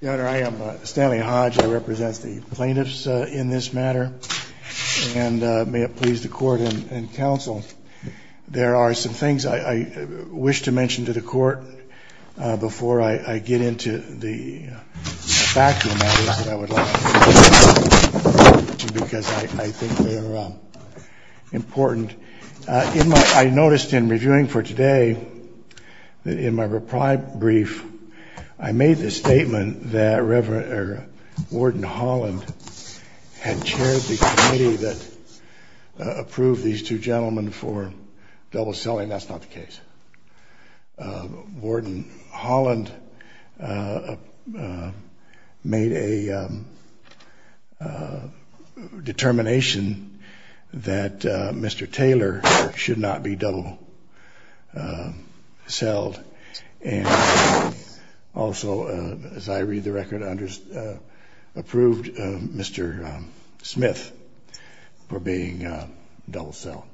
Your Honor, I am Stanley Hodge. I represent the plaintiffs in this matter. And may it please the court and counsel, there are some things I wish to mention to the court before I get into the vacuum matters that I would like to mention because I think they are important. I noticed in reviewing for today that in my brief, I made the statement that Warden Holland had chaired the committee that approved these two gentlemen for double selling. That's not the case. Warden Holland made a determination that Mr. Taylor should not be double sold. And also, as I read the record, approved Mr. Smith for being double sold.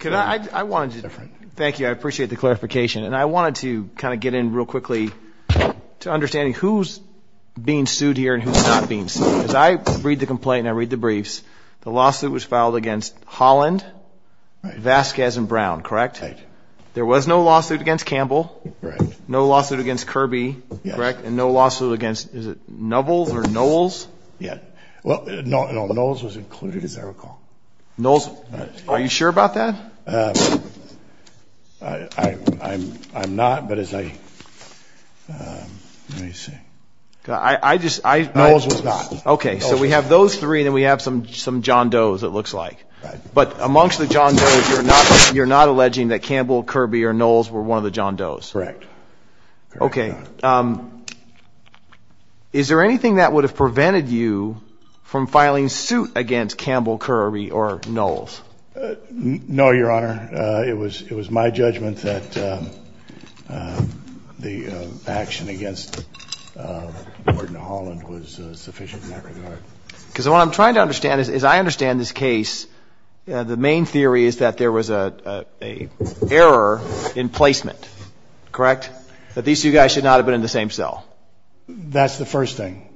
Thank you. I appreciate the clarification. And I wanted to kind of get in real quickly to understanding who's being sued here and who's not being sued. As I read the complaint and I read the briefs, the lawsuit was filed against Holland, Vasquez, and Brown, correct? Right. There was no lawsuit against Campbell? Right. No lawsuit against Kirby? Correct. And no lawsuit against, is it Nobles or Knowles? Knowles was included, as I recall. Knowles, are you sure about that? I'm not, but as I, let me see. Knowles was not. Okay, so we have those three and then we have some John Doe's it looks like. But amongst the John Doe's, you're not alleging that Campbell, Kirby, or Knowles were one of the John Doe's? Correct. Okay. Is there anything that would have prevented you from filing suit against Campbell, Kirby, or Knowles? No, Your Honor. It was my judgment that the action against Gordon Holland was sufficient in that regard. Because what I'm trying to understand is, as I understand this case, the main theory is that there was an error in placement, correct? That these two guys should not have been in the same cell. That's the first thing.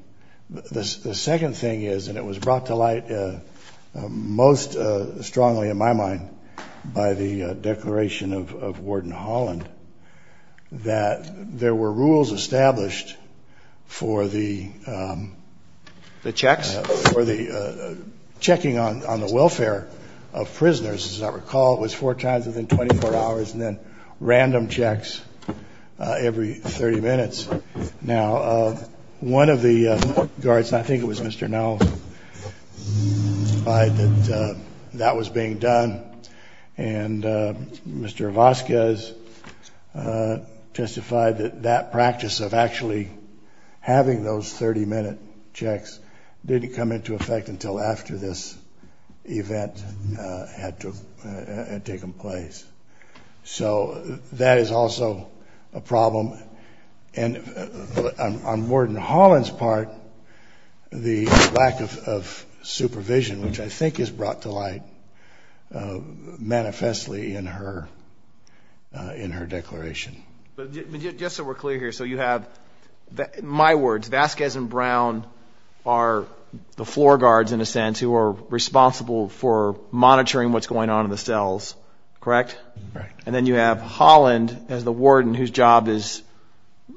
The second thing is, and it was brought to light most strongly in my mind by the declaration of Gordon Holland, that there were rules established for the. The checks? For the checking on the welfare of prisoners. As I recall, it was four times within 24 hours and then random checks every 30 minutes. Now, one of the guards, and I think it was Mr. Knowles, implied that that was being done. And Mr. Vazquez testified that that practice of actually having those 30 minute checks didn't come into effect until after this event had taken place. So that is also a problem. And on Gordon Holland's part, the lack of supervision, which I think is brought to light manifestly in her declaration. But just so we're clear here, so you have, in my words, Vazquez and Brown are the floor guards, in a sense, who are responsible for monitoring what's going on in the cells, correct? Correct. And then you have Holland as the warden whose job is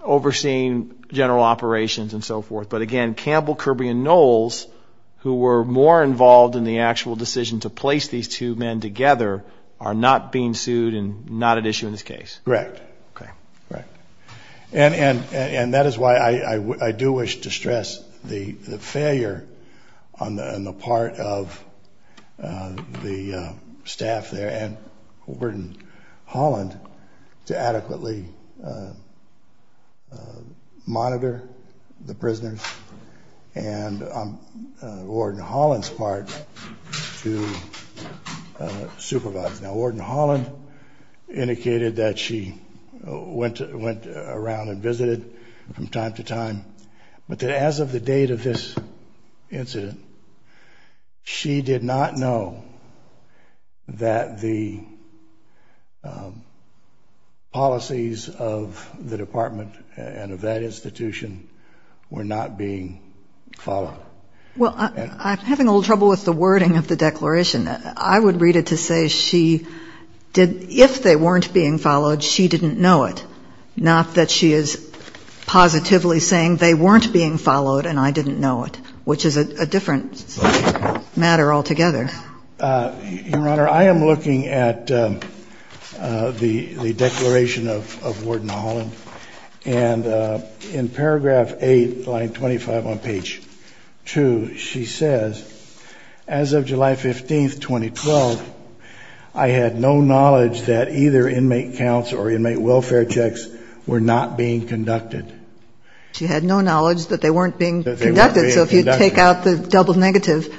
overseeing general operations and so forth. But again, Campbell, Kirby, and Knowles, who were more involved in the actual decision to place these two men together, are not being sued and not at issue in this case. Correct. Okay. Correct. And that is why I do wish to stress the failure on the part of the staff there and Gordon Holland to adequately monitor the prisoners and on Gordon Holland's part to supervise. Now, Gordon Holland indicated that she went around and visited from time to time, but that as of the date of this incident, she did not know that the policies of the department and of that institution were not being followed. Well, I'm having a little trouble with the wording of the declaration. I would read it to say she did, if they weren't being followed, she didn't know it, not that she is positively saying they weren't being followed and I didn't know it, which is a different matter altogether. Your Honor, I am looking at the declaration of Warden Holland, and in paragraph 8, line 25 on page 2, she says, as of July 15, 2012, I had no knowledge that either inmate counts or inmate welfare checks were not being conducted. She had no knowledge that they weren't being conducted. So if you take out the double negative.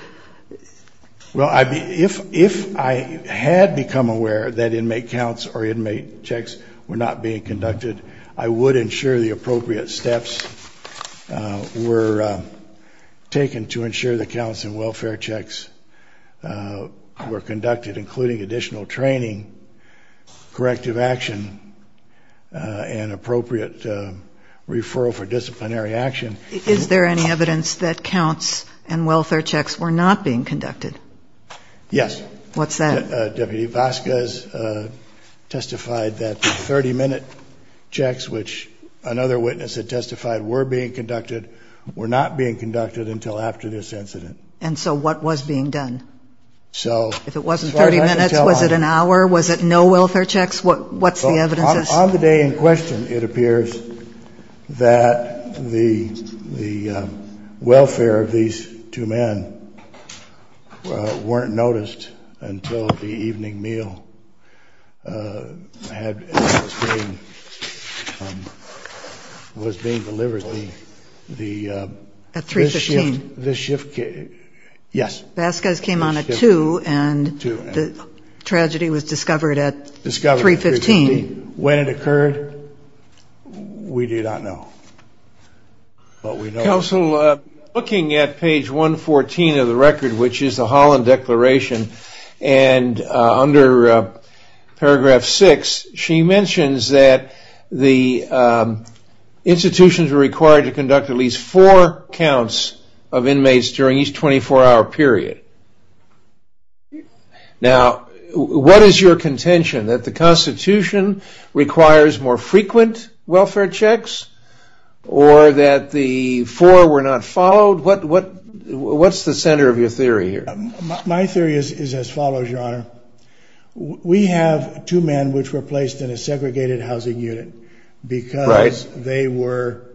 Well, if I had become aware that inmate counts or inmate checks were not being conducted, I would ensure the appropriate steps were taken to ensure the counts and welfare checks were conducted, including additional training, corrective action, and appropriate referral for disciplinary action. Is there any evidence that counts and welfare checks were not being conducted? Yes. What's that? Deputy Vasquez testified that the 30-minute checks, which another witness had testified were being conducted, were not being conducted until after this incident. And so what was being done? If it wasn't 30 minutes, was it an hour? Was it no welfare checks? What's the evidence? On the day in question, it appears that the welfare of these two men weren't noticed until the evening meal was being delivered. At 3.15? Yes. Vasquez came on at 2, and the tragedy was discovered at 3.15. When it occurred, we do not know. Counsel, looking at page 114 of the record, which is the Holland Declaration, and under paragraph 6, she mentions that the institutions were required to conduct at least four counts of inmates during each 24-hour period. Now, what is your contention? That the Constitution requires more frequent welfare checks, or that the four were not followed? What's the center of your theory here? My theory is as follows, Your Honor. We have two men which were placed in a segregated housing unit because they were,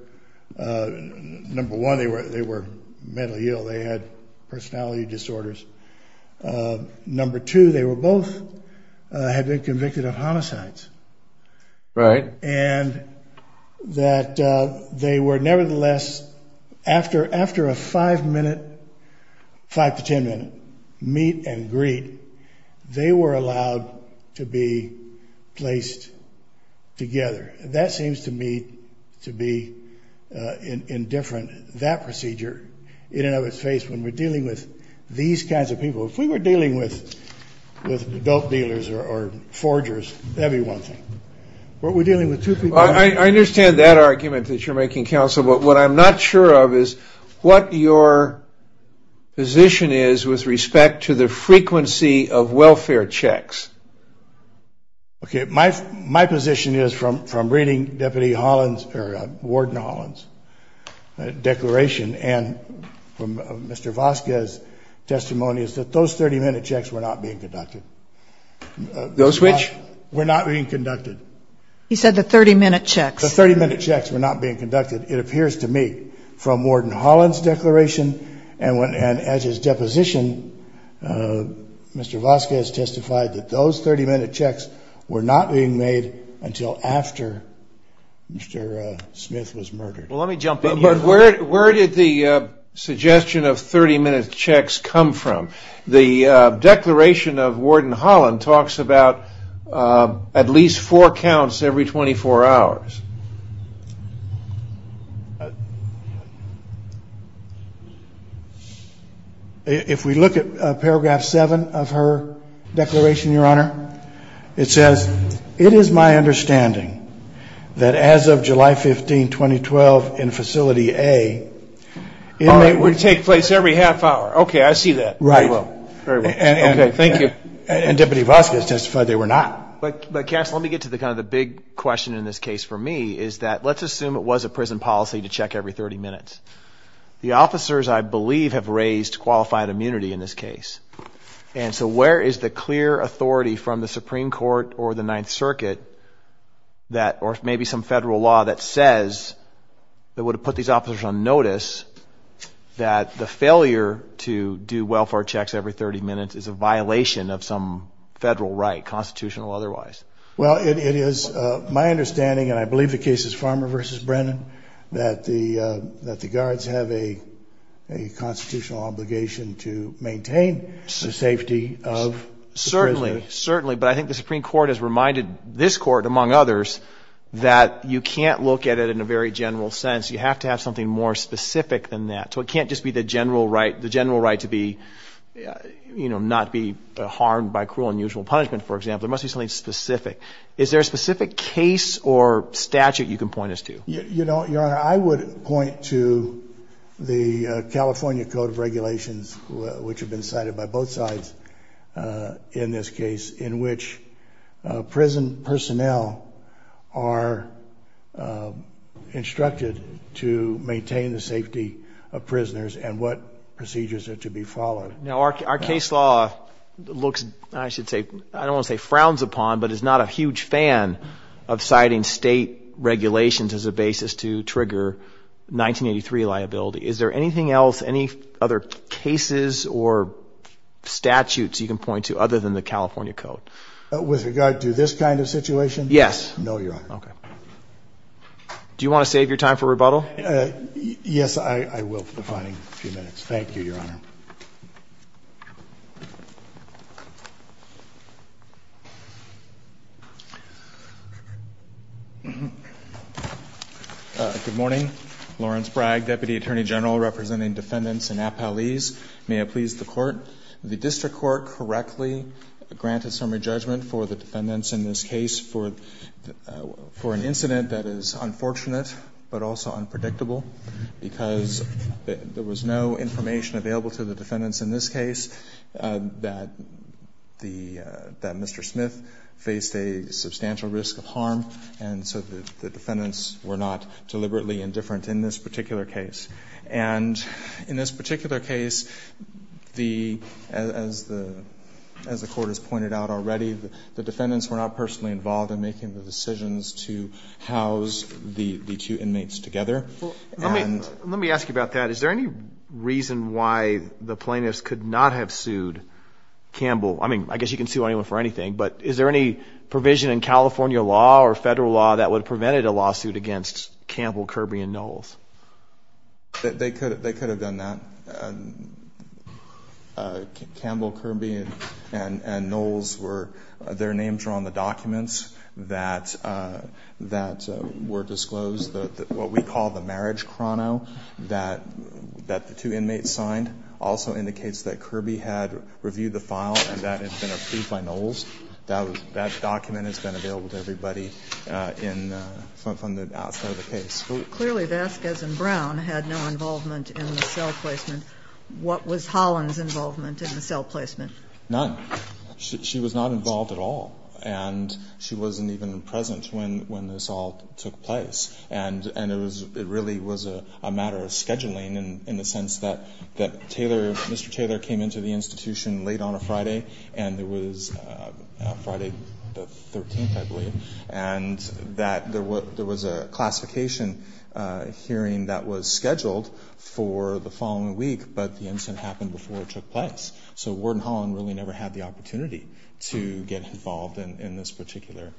number one, they were mentally ill. They had personality disorders. Number two, they were both had been convicted of homicides. Right. And that they were nevertheless, after a five-minute, five to ten-minute meet and greet, they were allowed to be placed together. That seems to me to be indifferent. That procedure, in and of its face, when we're dealing with these kinds of people, if we were dealing with adult dealers or forgers, that would be one thing. But we're dealing with two people. I understand that argument that you're making, Counsel, but what I'm not sure of is what your position is with respect to the frequency of welfare checks. Okay. My position is from reading Deputy Holland's or Warden Holland's declaration and from Mr. Voska's testimony is that those 30-minute checks were not being conducted. Those which? Were not being conducted. He said the 30-minute checks. The 30-minute checks were not being conducted, it appears to me, from Warden Holland's declaration and as his deposition, Mr. Voska has testified that those 30-minute checks were not being made until after Mr. Smith was murdered. Well, let me jump in here. But where did the suggestion of 30-minute checks come from? The declaration of Warden Holland talks about at least four counts every 24 hours. If we look at Paragraph 7 of her declaration, Your Honor, it says, it is my understanding that as of July 15, 2012, in Facility A, it would take place every half hour. Okay, I see that. Right. Very well. Okay, thank you. And Deputy Voska has testified they were not. But, Cass, let me get to kind of the big question in this case for me is that let's assume it was a prison policy to check every 30 minutes. The officers, I believe, have raised qualified immunity in this case. And so where is the clear authority from the Supreme Court or the Ninth Circuit or maybe some federal law that says that would have put these officers on notice that the failure to do welfare checks every 30 minutes is a violation of some federal right, constitutional or otherwise? Well, it is my understanding, and I believe the case is Farmer v. Brennan, that the guards have a constitutional obligation to maintain the safety of the prisoners. Certainly, but I think the Supreme Court has reminded this Court, among others, that you can't look at it in a very general sense. You have to have something more specific than that. So it can't just be the general right to be, you know, not be harmed by cruel and unusual punishment, for example. It must be something specific. Is there a specific case or statute you can point us to? Your Honor, I would point to the California Code of Regulations, which have been cited by both sides in this case, in which prison personnel are instructed to maintain the safety of prisoners and what procedures are to be followed. Now, our case law looks, I should say, I don't want to say frowns upon, but is not a huge fan of citing state regulations as a basis to trigger 1983 liability. Is there anything else, any other cases or statutes you can point to other than the California Code? With regard to this kind of situation? Yes. No, Your Honor. Okay. Do you want to save your time for rebuttal? Yes, I will for the final few minutes. Thank you, Your Honor. Good morning. Lawrence Bragg, Deputy Attorney General representing defendants in Appalese. May it please the Court. The district court correctly granted summary judgment for the defendants in this case for an incident that is unfortunate but also unpredictable because there was no information available to the defendants in this case that Mr. Smith faced a substantial risk of harm, and so the defendants were not deliberately indifferent in this particular case. And in this particular case, as the Court has pointed out already, the defendants were not personally involved in making the decisions to house the two inmates together. Let me ask you about that. Is there any reason why the plaintiffs could not have sued Campbell? I mean, I guess you can sue anyone for anything, but is there any provision in California law or federal law that would have prevented a lawsuit against Campbell, Kirby, and Knowles? They could have done that. Campbell, Kirby, and Knowles were their names were on the documents that were disclosed. What we call the marriage chrono that the two inmates signed also indicates that Kirby had reviewed the file and that it had been approved by Knowles. That document has been available to everybody from the outside of the case. Clearly Vasquez and Brown had no involvement in the cell placement. What was Holland's involvement in the cell placement? None. She was not involved at all, and she wasn't even present when this all took place. It really was a matter of scheduling in the sense that Mr. Taylor came into the institution late on a Friday, and it was Friday the 13th, I believe, and that there was a classification hearing that was scheduled for the following week, but the incident happened before it took place. So Warden Holland really never had the opportunity to get involved in this particular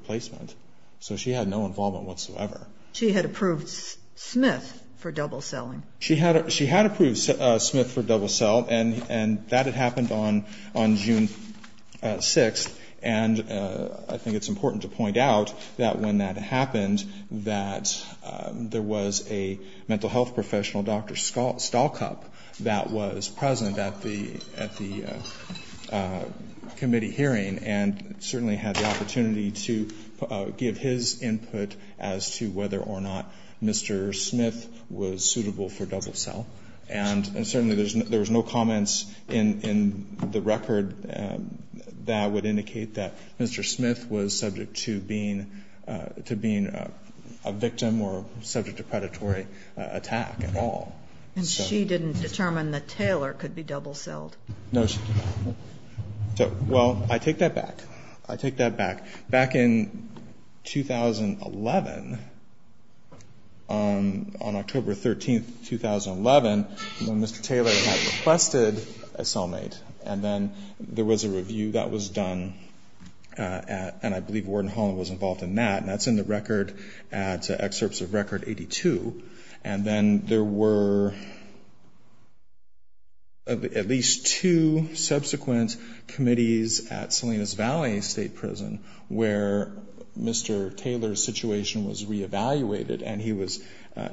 placement. So she had no involvement whatsoever. She had approved Smith for double celling. She had approved Smith for double cell, and that had happened on June 6th, and I think it's important to point out that when that happened, that there was a mental health professional, Dr. Stalkup, that was present at the committee hearing and certainly had the opportunity to give his input as to whether or not Mr. Smith was suitable for double cell. And certainly there was no comments in the record that would indicate that Mr. Smith was subject to being a victim or subject to predatory attack at all. And she didn't determine that Taylor could be double celled? No. Well, I take that back. Back in 2011, on October 13th, 2011, when Mr. Taylor had requested a cellmate, and then there was a review that was done, and I believe Warden Holland was involved in that, and that's in the record at Excerpts of Record 82. And then there were at least two subsequent committees at Salinas Valley State Prison where Mr. Taylor's situation was re-evaluated, and he was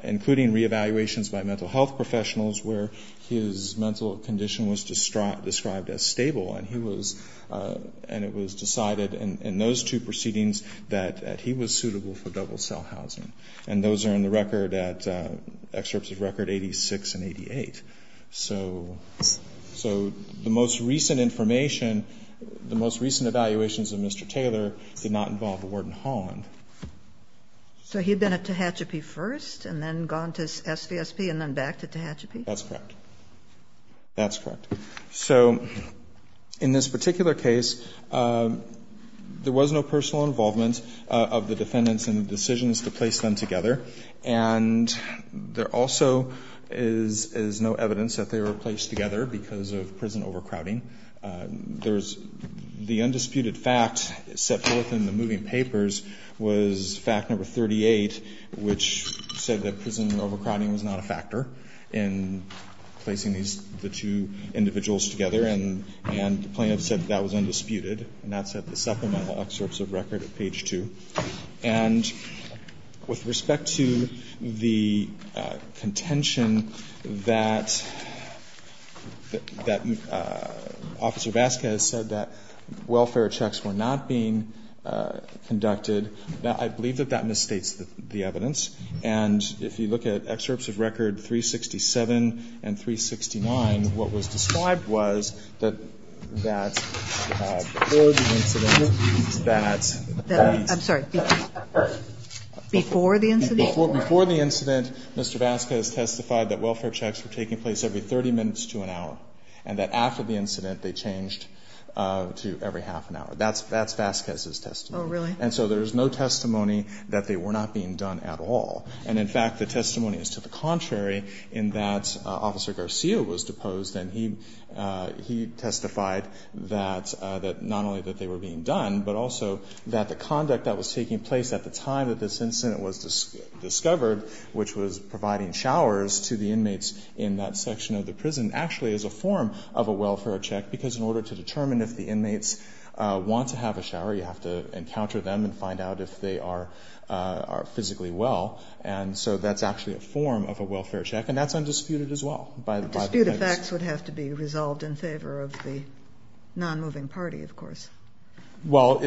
including re-evaluations by mental health professionals where his mental condition was described as stable, and it was decided in those two proceedings that he was suitable for double cell housing. And those are in the record at Excerpts of Record 86 and 88. So the most recent information, the most recent evaluations of Mr. Taylor did not involve Warden Holland. So he had been at Tehachapi first and then gone to SVSP and then back to Tehachapi? That's correct. That's correct. So in this particular case, there was no personal involvement of the defendants in the decisions to place them together, and there also is no evidence that they were placed together because of prison overcrowding. There's the undisputed fact set forth in the moving papers was fact number 38, which said that prison overcrowding was not a factor in placing these, the two individuals together, and the plaintiff said that was undisputed, and that's at the supplemental Excerpts of Record at page 2. And with respect to the contention that Officer Vasquez said that welfare checks were not being conducted, I believe that that misstates the evidence. And if you look at Excerpts of Record 367 and 369, what was described was that that before the incident, Mr. Vasquez testified that welfare checks were taking place every 30 minutes to an hour, and that after the incident, they changed to every half an hour. That's Vasquez's testimony. Oh, really? And so there's no testimony that they were not being done at all. And in fact, the testimony is to the contrary, in that Officer Garcia was deposed and he testified that not only that they were being done, but also that the conduct that was taking place at the time that this incident was discovered, which was providing showers to the inmates in that section of the prison, actually is a form of a welfare check, because in order to determine if the inmates want to have a shower, you have to encounter them and find out if they are physically well. And so that's actually a form of a welfare check. And that's undisputed as well. Dispute effects would have to be resolved in favor of the nonmoving party, of course. Well,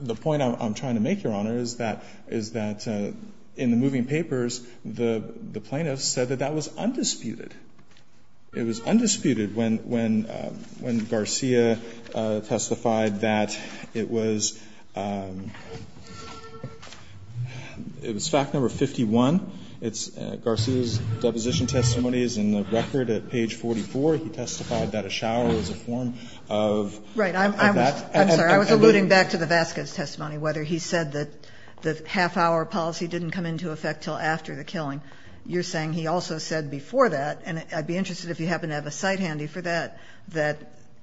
the point I'm trying to make, Your Honor, is that in the moving papers, the plaintiffs said that that was undisputed. It was undisputed when Garcia testified that it was fact number 51. Garcia's deposition testimony is in the record at page 44. He testified that a shower was a form of that. I'm sorry. I was alluding back to the Vasquez testimony, whether he said that the half-hour policy didn't come into effect until after the killing. You're saying he also said before that, and I'd be interested if you happen to have a cite handy for that, that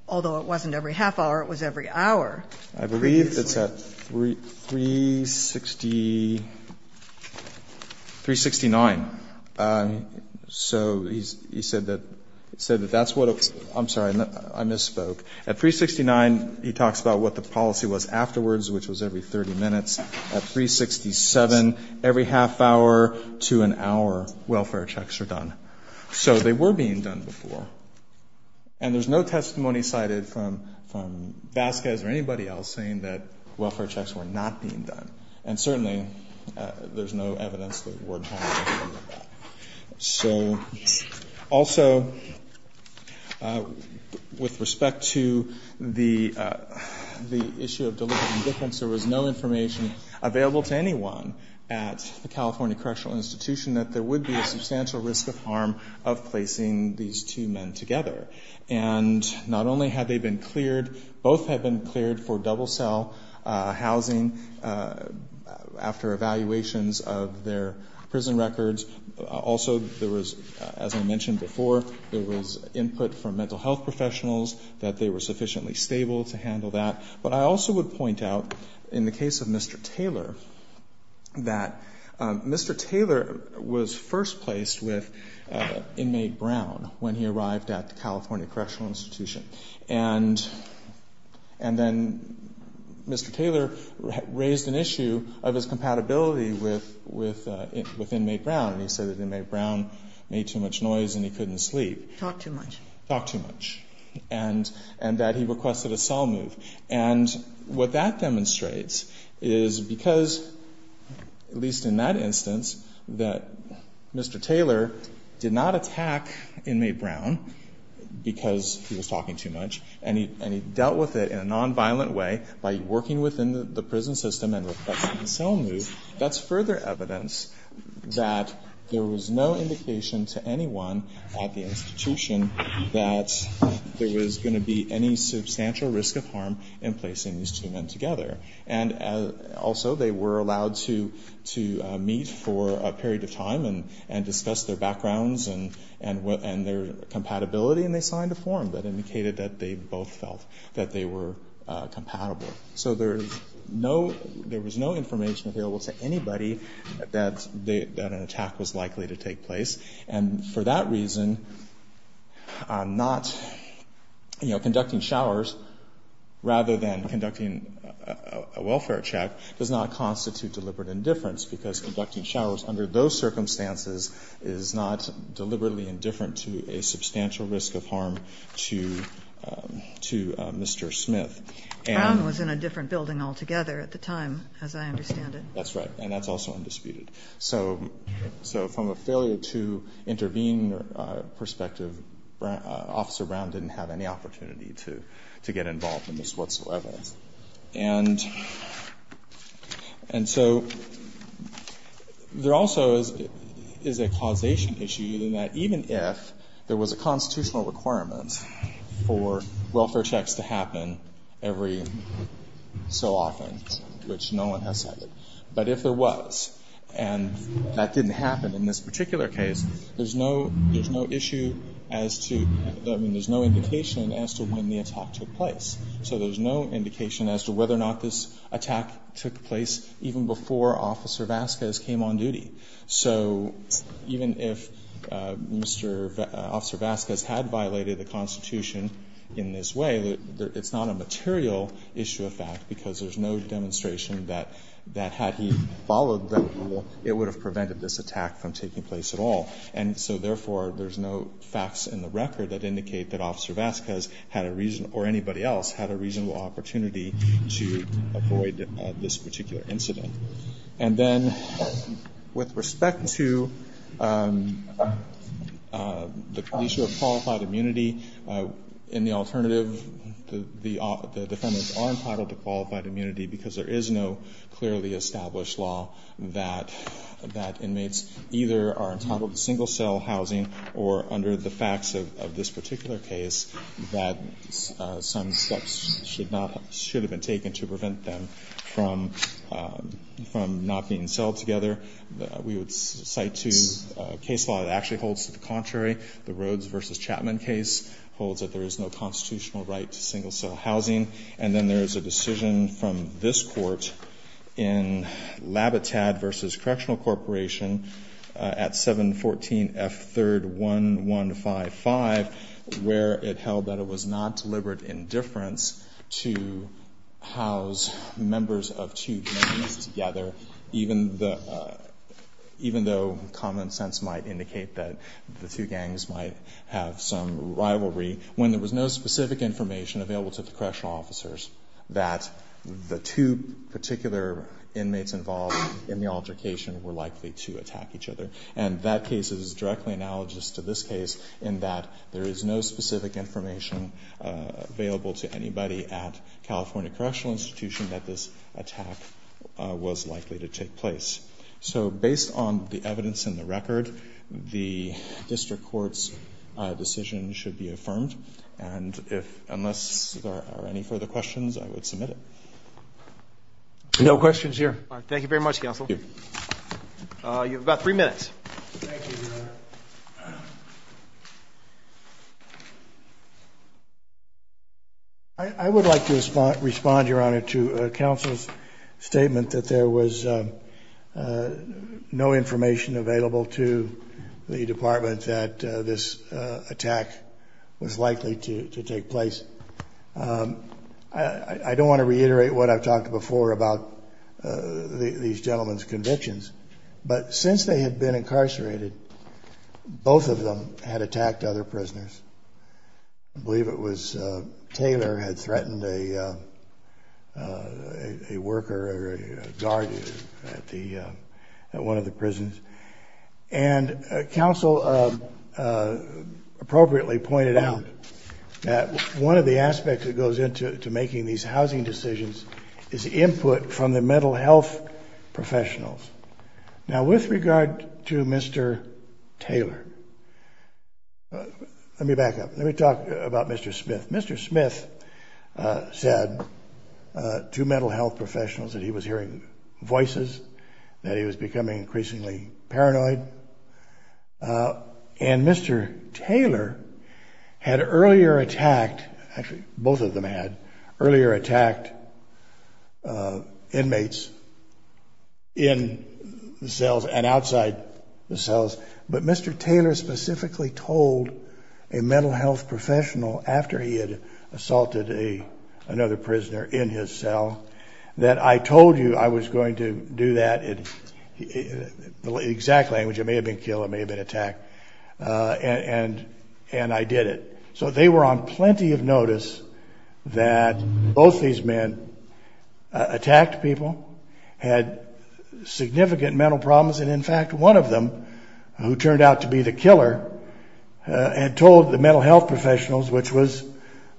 although it wasn't every half hour, it was every hour. I believe it's at 369. So he said that that's what it was. I'm sorry. I misspoke. At 369, he talks about what the policy was afterwards, which was every 30 minutes. At 367, every half hour to an hour, welfare checks are done. So they were being done before. And there's no testimony cited from Vasquez or anybody else saying that welfare checks were not being done. And certainly, there's no evidence that Ward Hall was doing that. So also, with respect to the issue of deliberate indifference, there was no information available to anyone at the California Correctional Institution that there would be a substantial risk of harm of placing these two men together. And not only had they been cleared, both had been cleared for double cell housing after evaluations of their prison records. Also, there was, as I mentioned before, there was input from mental health professionals that they were sufficiently stable to handle that. But I also would point out, in the case of Mr. Taylor, that Mr. Taylor was first placed with inmate Brown when he arrived at the California Correctional Institution. And then Mr. Taylor raised an issue of his compatibility with inmate Brown. And he said that inmate Brown made too much noise and he couldn't sleep. Talked too much. Talked too much. And that he requested a cell move. And what that demonstrates is because, at least in that instance, that Mr. Taylor did not attack inmate Brown because he was talking too much, and he dealt with it in a nonviolent way by working within the prison system and requesting a cell move, that's further evidence that there was no indication to anyone at the institution that there was going to be any substantial risk of harm in placing these two men together. And also, they were allowed to meet for a period of time and discuss their backgrounds and their compatibility, and they signed a form that indicated that they both felt that they were compatible. So there was no information available to anybody that an attack was likely to take place. And for that reason, not, you know, conducting showers rather than conducting a welfare check does not constitute deliberate indifference because conducting showers under those circumstances is not deliberately indifferent to a substantial risk of harm to Mr. Smith. Brown was in a different building altogether at the time, as I understand it. That's right. And that's also undisputed. So from a failure to intervene perspective, Officer Brown didn't have any opportunity to get involved in this whatsoever. And so there also is a causation issue in that even if there was a constitutional requirement for welfare checks to happen every so often, which no one has said, but if there was and that didn't happen in this particular case, there's no issue as to, I mean, there's no indication as to when the attack took place. So there's no indication as to whether or not this attack took place even before Officer Vasquez came on duty. So even if Officer Vasquez had violated the Constitution in this way, it's not a material issue of fact because there's no demonstration that had he followed that rule, it would have prevented this attack from taking place at all. And so therefore, there's no facts in the record that indicate that Officer Vasquez had a reason or anybody else had a reasonable opportunity to avoid this particular incident. And then with respect to the issue of qualified immunity, in the alternative, the defendants are entitled to qualified immunity because there is no clearly established law that inmates either are entitled to single cell housing or under the facts of this particular case that some steps should have been taken to prevent them from not being celled together. We would cite two case law that actually holds to the contrary. The Rhoades v. Chapman case holds that there is no constitutional right to single cell housing. And then there is a decision from this Court in Labitad v. Correctional Corporation at 714F3-1155 where it held that it was not deliberate indifference to house members of two gangs together even though common sense might indicate that the two gangs might have some rivalry when there was no specific information available to the correctional officers that the two particular inmates involved in the altercation were likely to attack each other. And that case is directly analogous to this case in that there is no specific information available to anybody at California Correctional Institution that this attack was likely to take place. So based on the evidence in the record, the district court's decision should be affirmed. And if unless there are any further questions, I would submit it. No questions here. All right. Thank you very much, counsel. Thank you. You have about three minutes. Thank you, Your Honor. I would like to respond, Your Honor, to counsel's statement that there was no information available to the department that this attack was likely to take place. I don't want to reiterate what I've talked before about these gentlemen's convictions, but since they had been incarcerated, both of them had attacked other prisoners. I believe it was Taylor had threatened a worker or a guard at one of the prisons. And counsel appropriately pointed out that one of the aspects that goes into making these housing decisions is input from the mental health professionals. Now, with regard to Mr. Taylor, let me back up. Let me talk about Mr. Smith. Mr. Smith said to mental health professionals that he was hearing voices, that he was becoming increasingly paranoid. And Mr. Taylor had earlier attacked, actually both of them had, earlier attacked inmates in the cells and outside the cells. But Mr. Taylor specifically told a mental health professional, after he had assaulted another prisoner in his cell, that I told you I was going to do that in the exact language, it may have been kill, it may have been attack, and I did it. So they were on plenty of notice that both these men attacked people, had significant mental problems, and in fact, one of them, who turned out to be the killer, had told the mental health professionals, which was,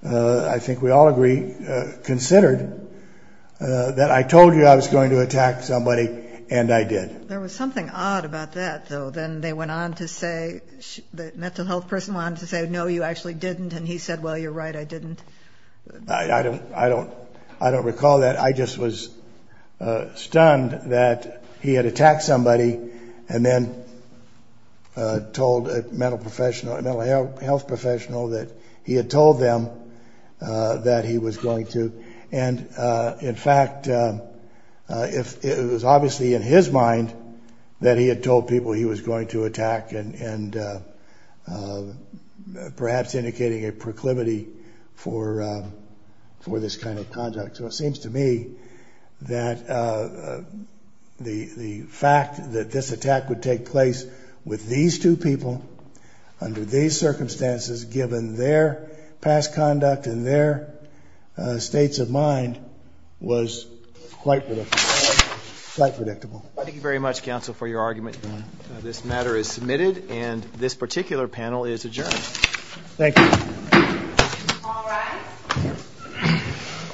I think we all agree, considered, that I told you I was going to attack somebody, and I did. There was something odd about that, though. Then they went on to say, the mental health person went on to say, no, you actually didn't, and he said, well, you're right, I didn't. I don't recall that. I just was stunned that he had attacked somebody and then told a mental health professional that he had told them that he was going to. In fact, it was obviously in his mind that he had told people he was going to attack and perhaps indicating a proclivity for this kind of conduct. So it seems to me that the fact that this attack would take place with these two people, under these circumstances, given their past conduct and their states of mind, was quite predictable. Thank you very much, counsel, for your argument. This matter is submitted and this particular panel is adjourned. Thank you.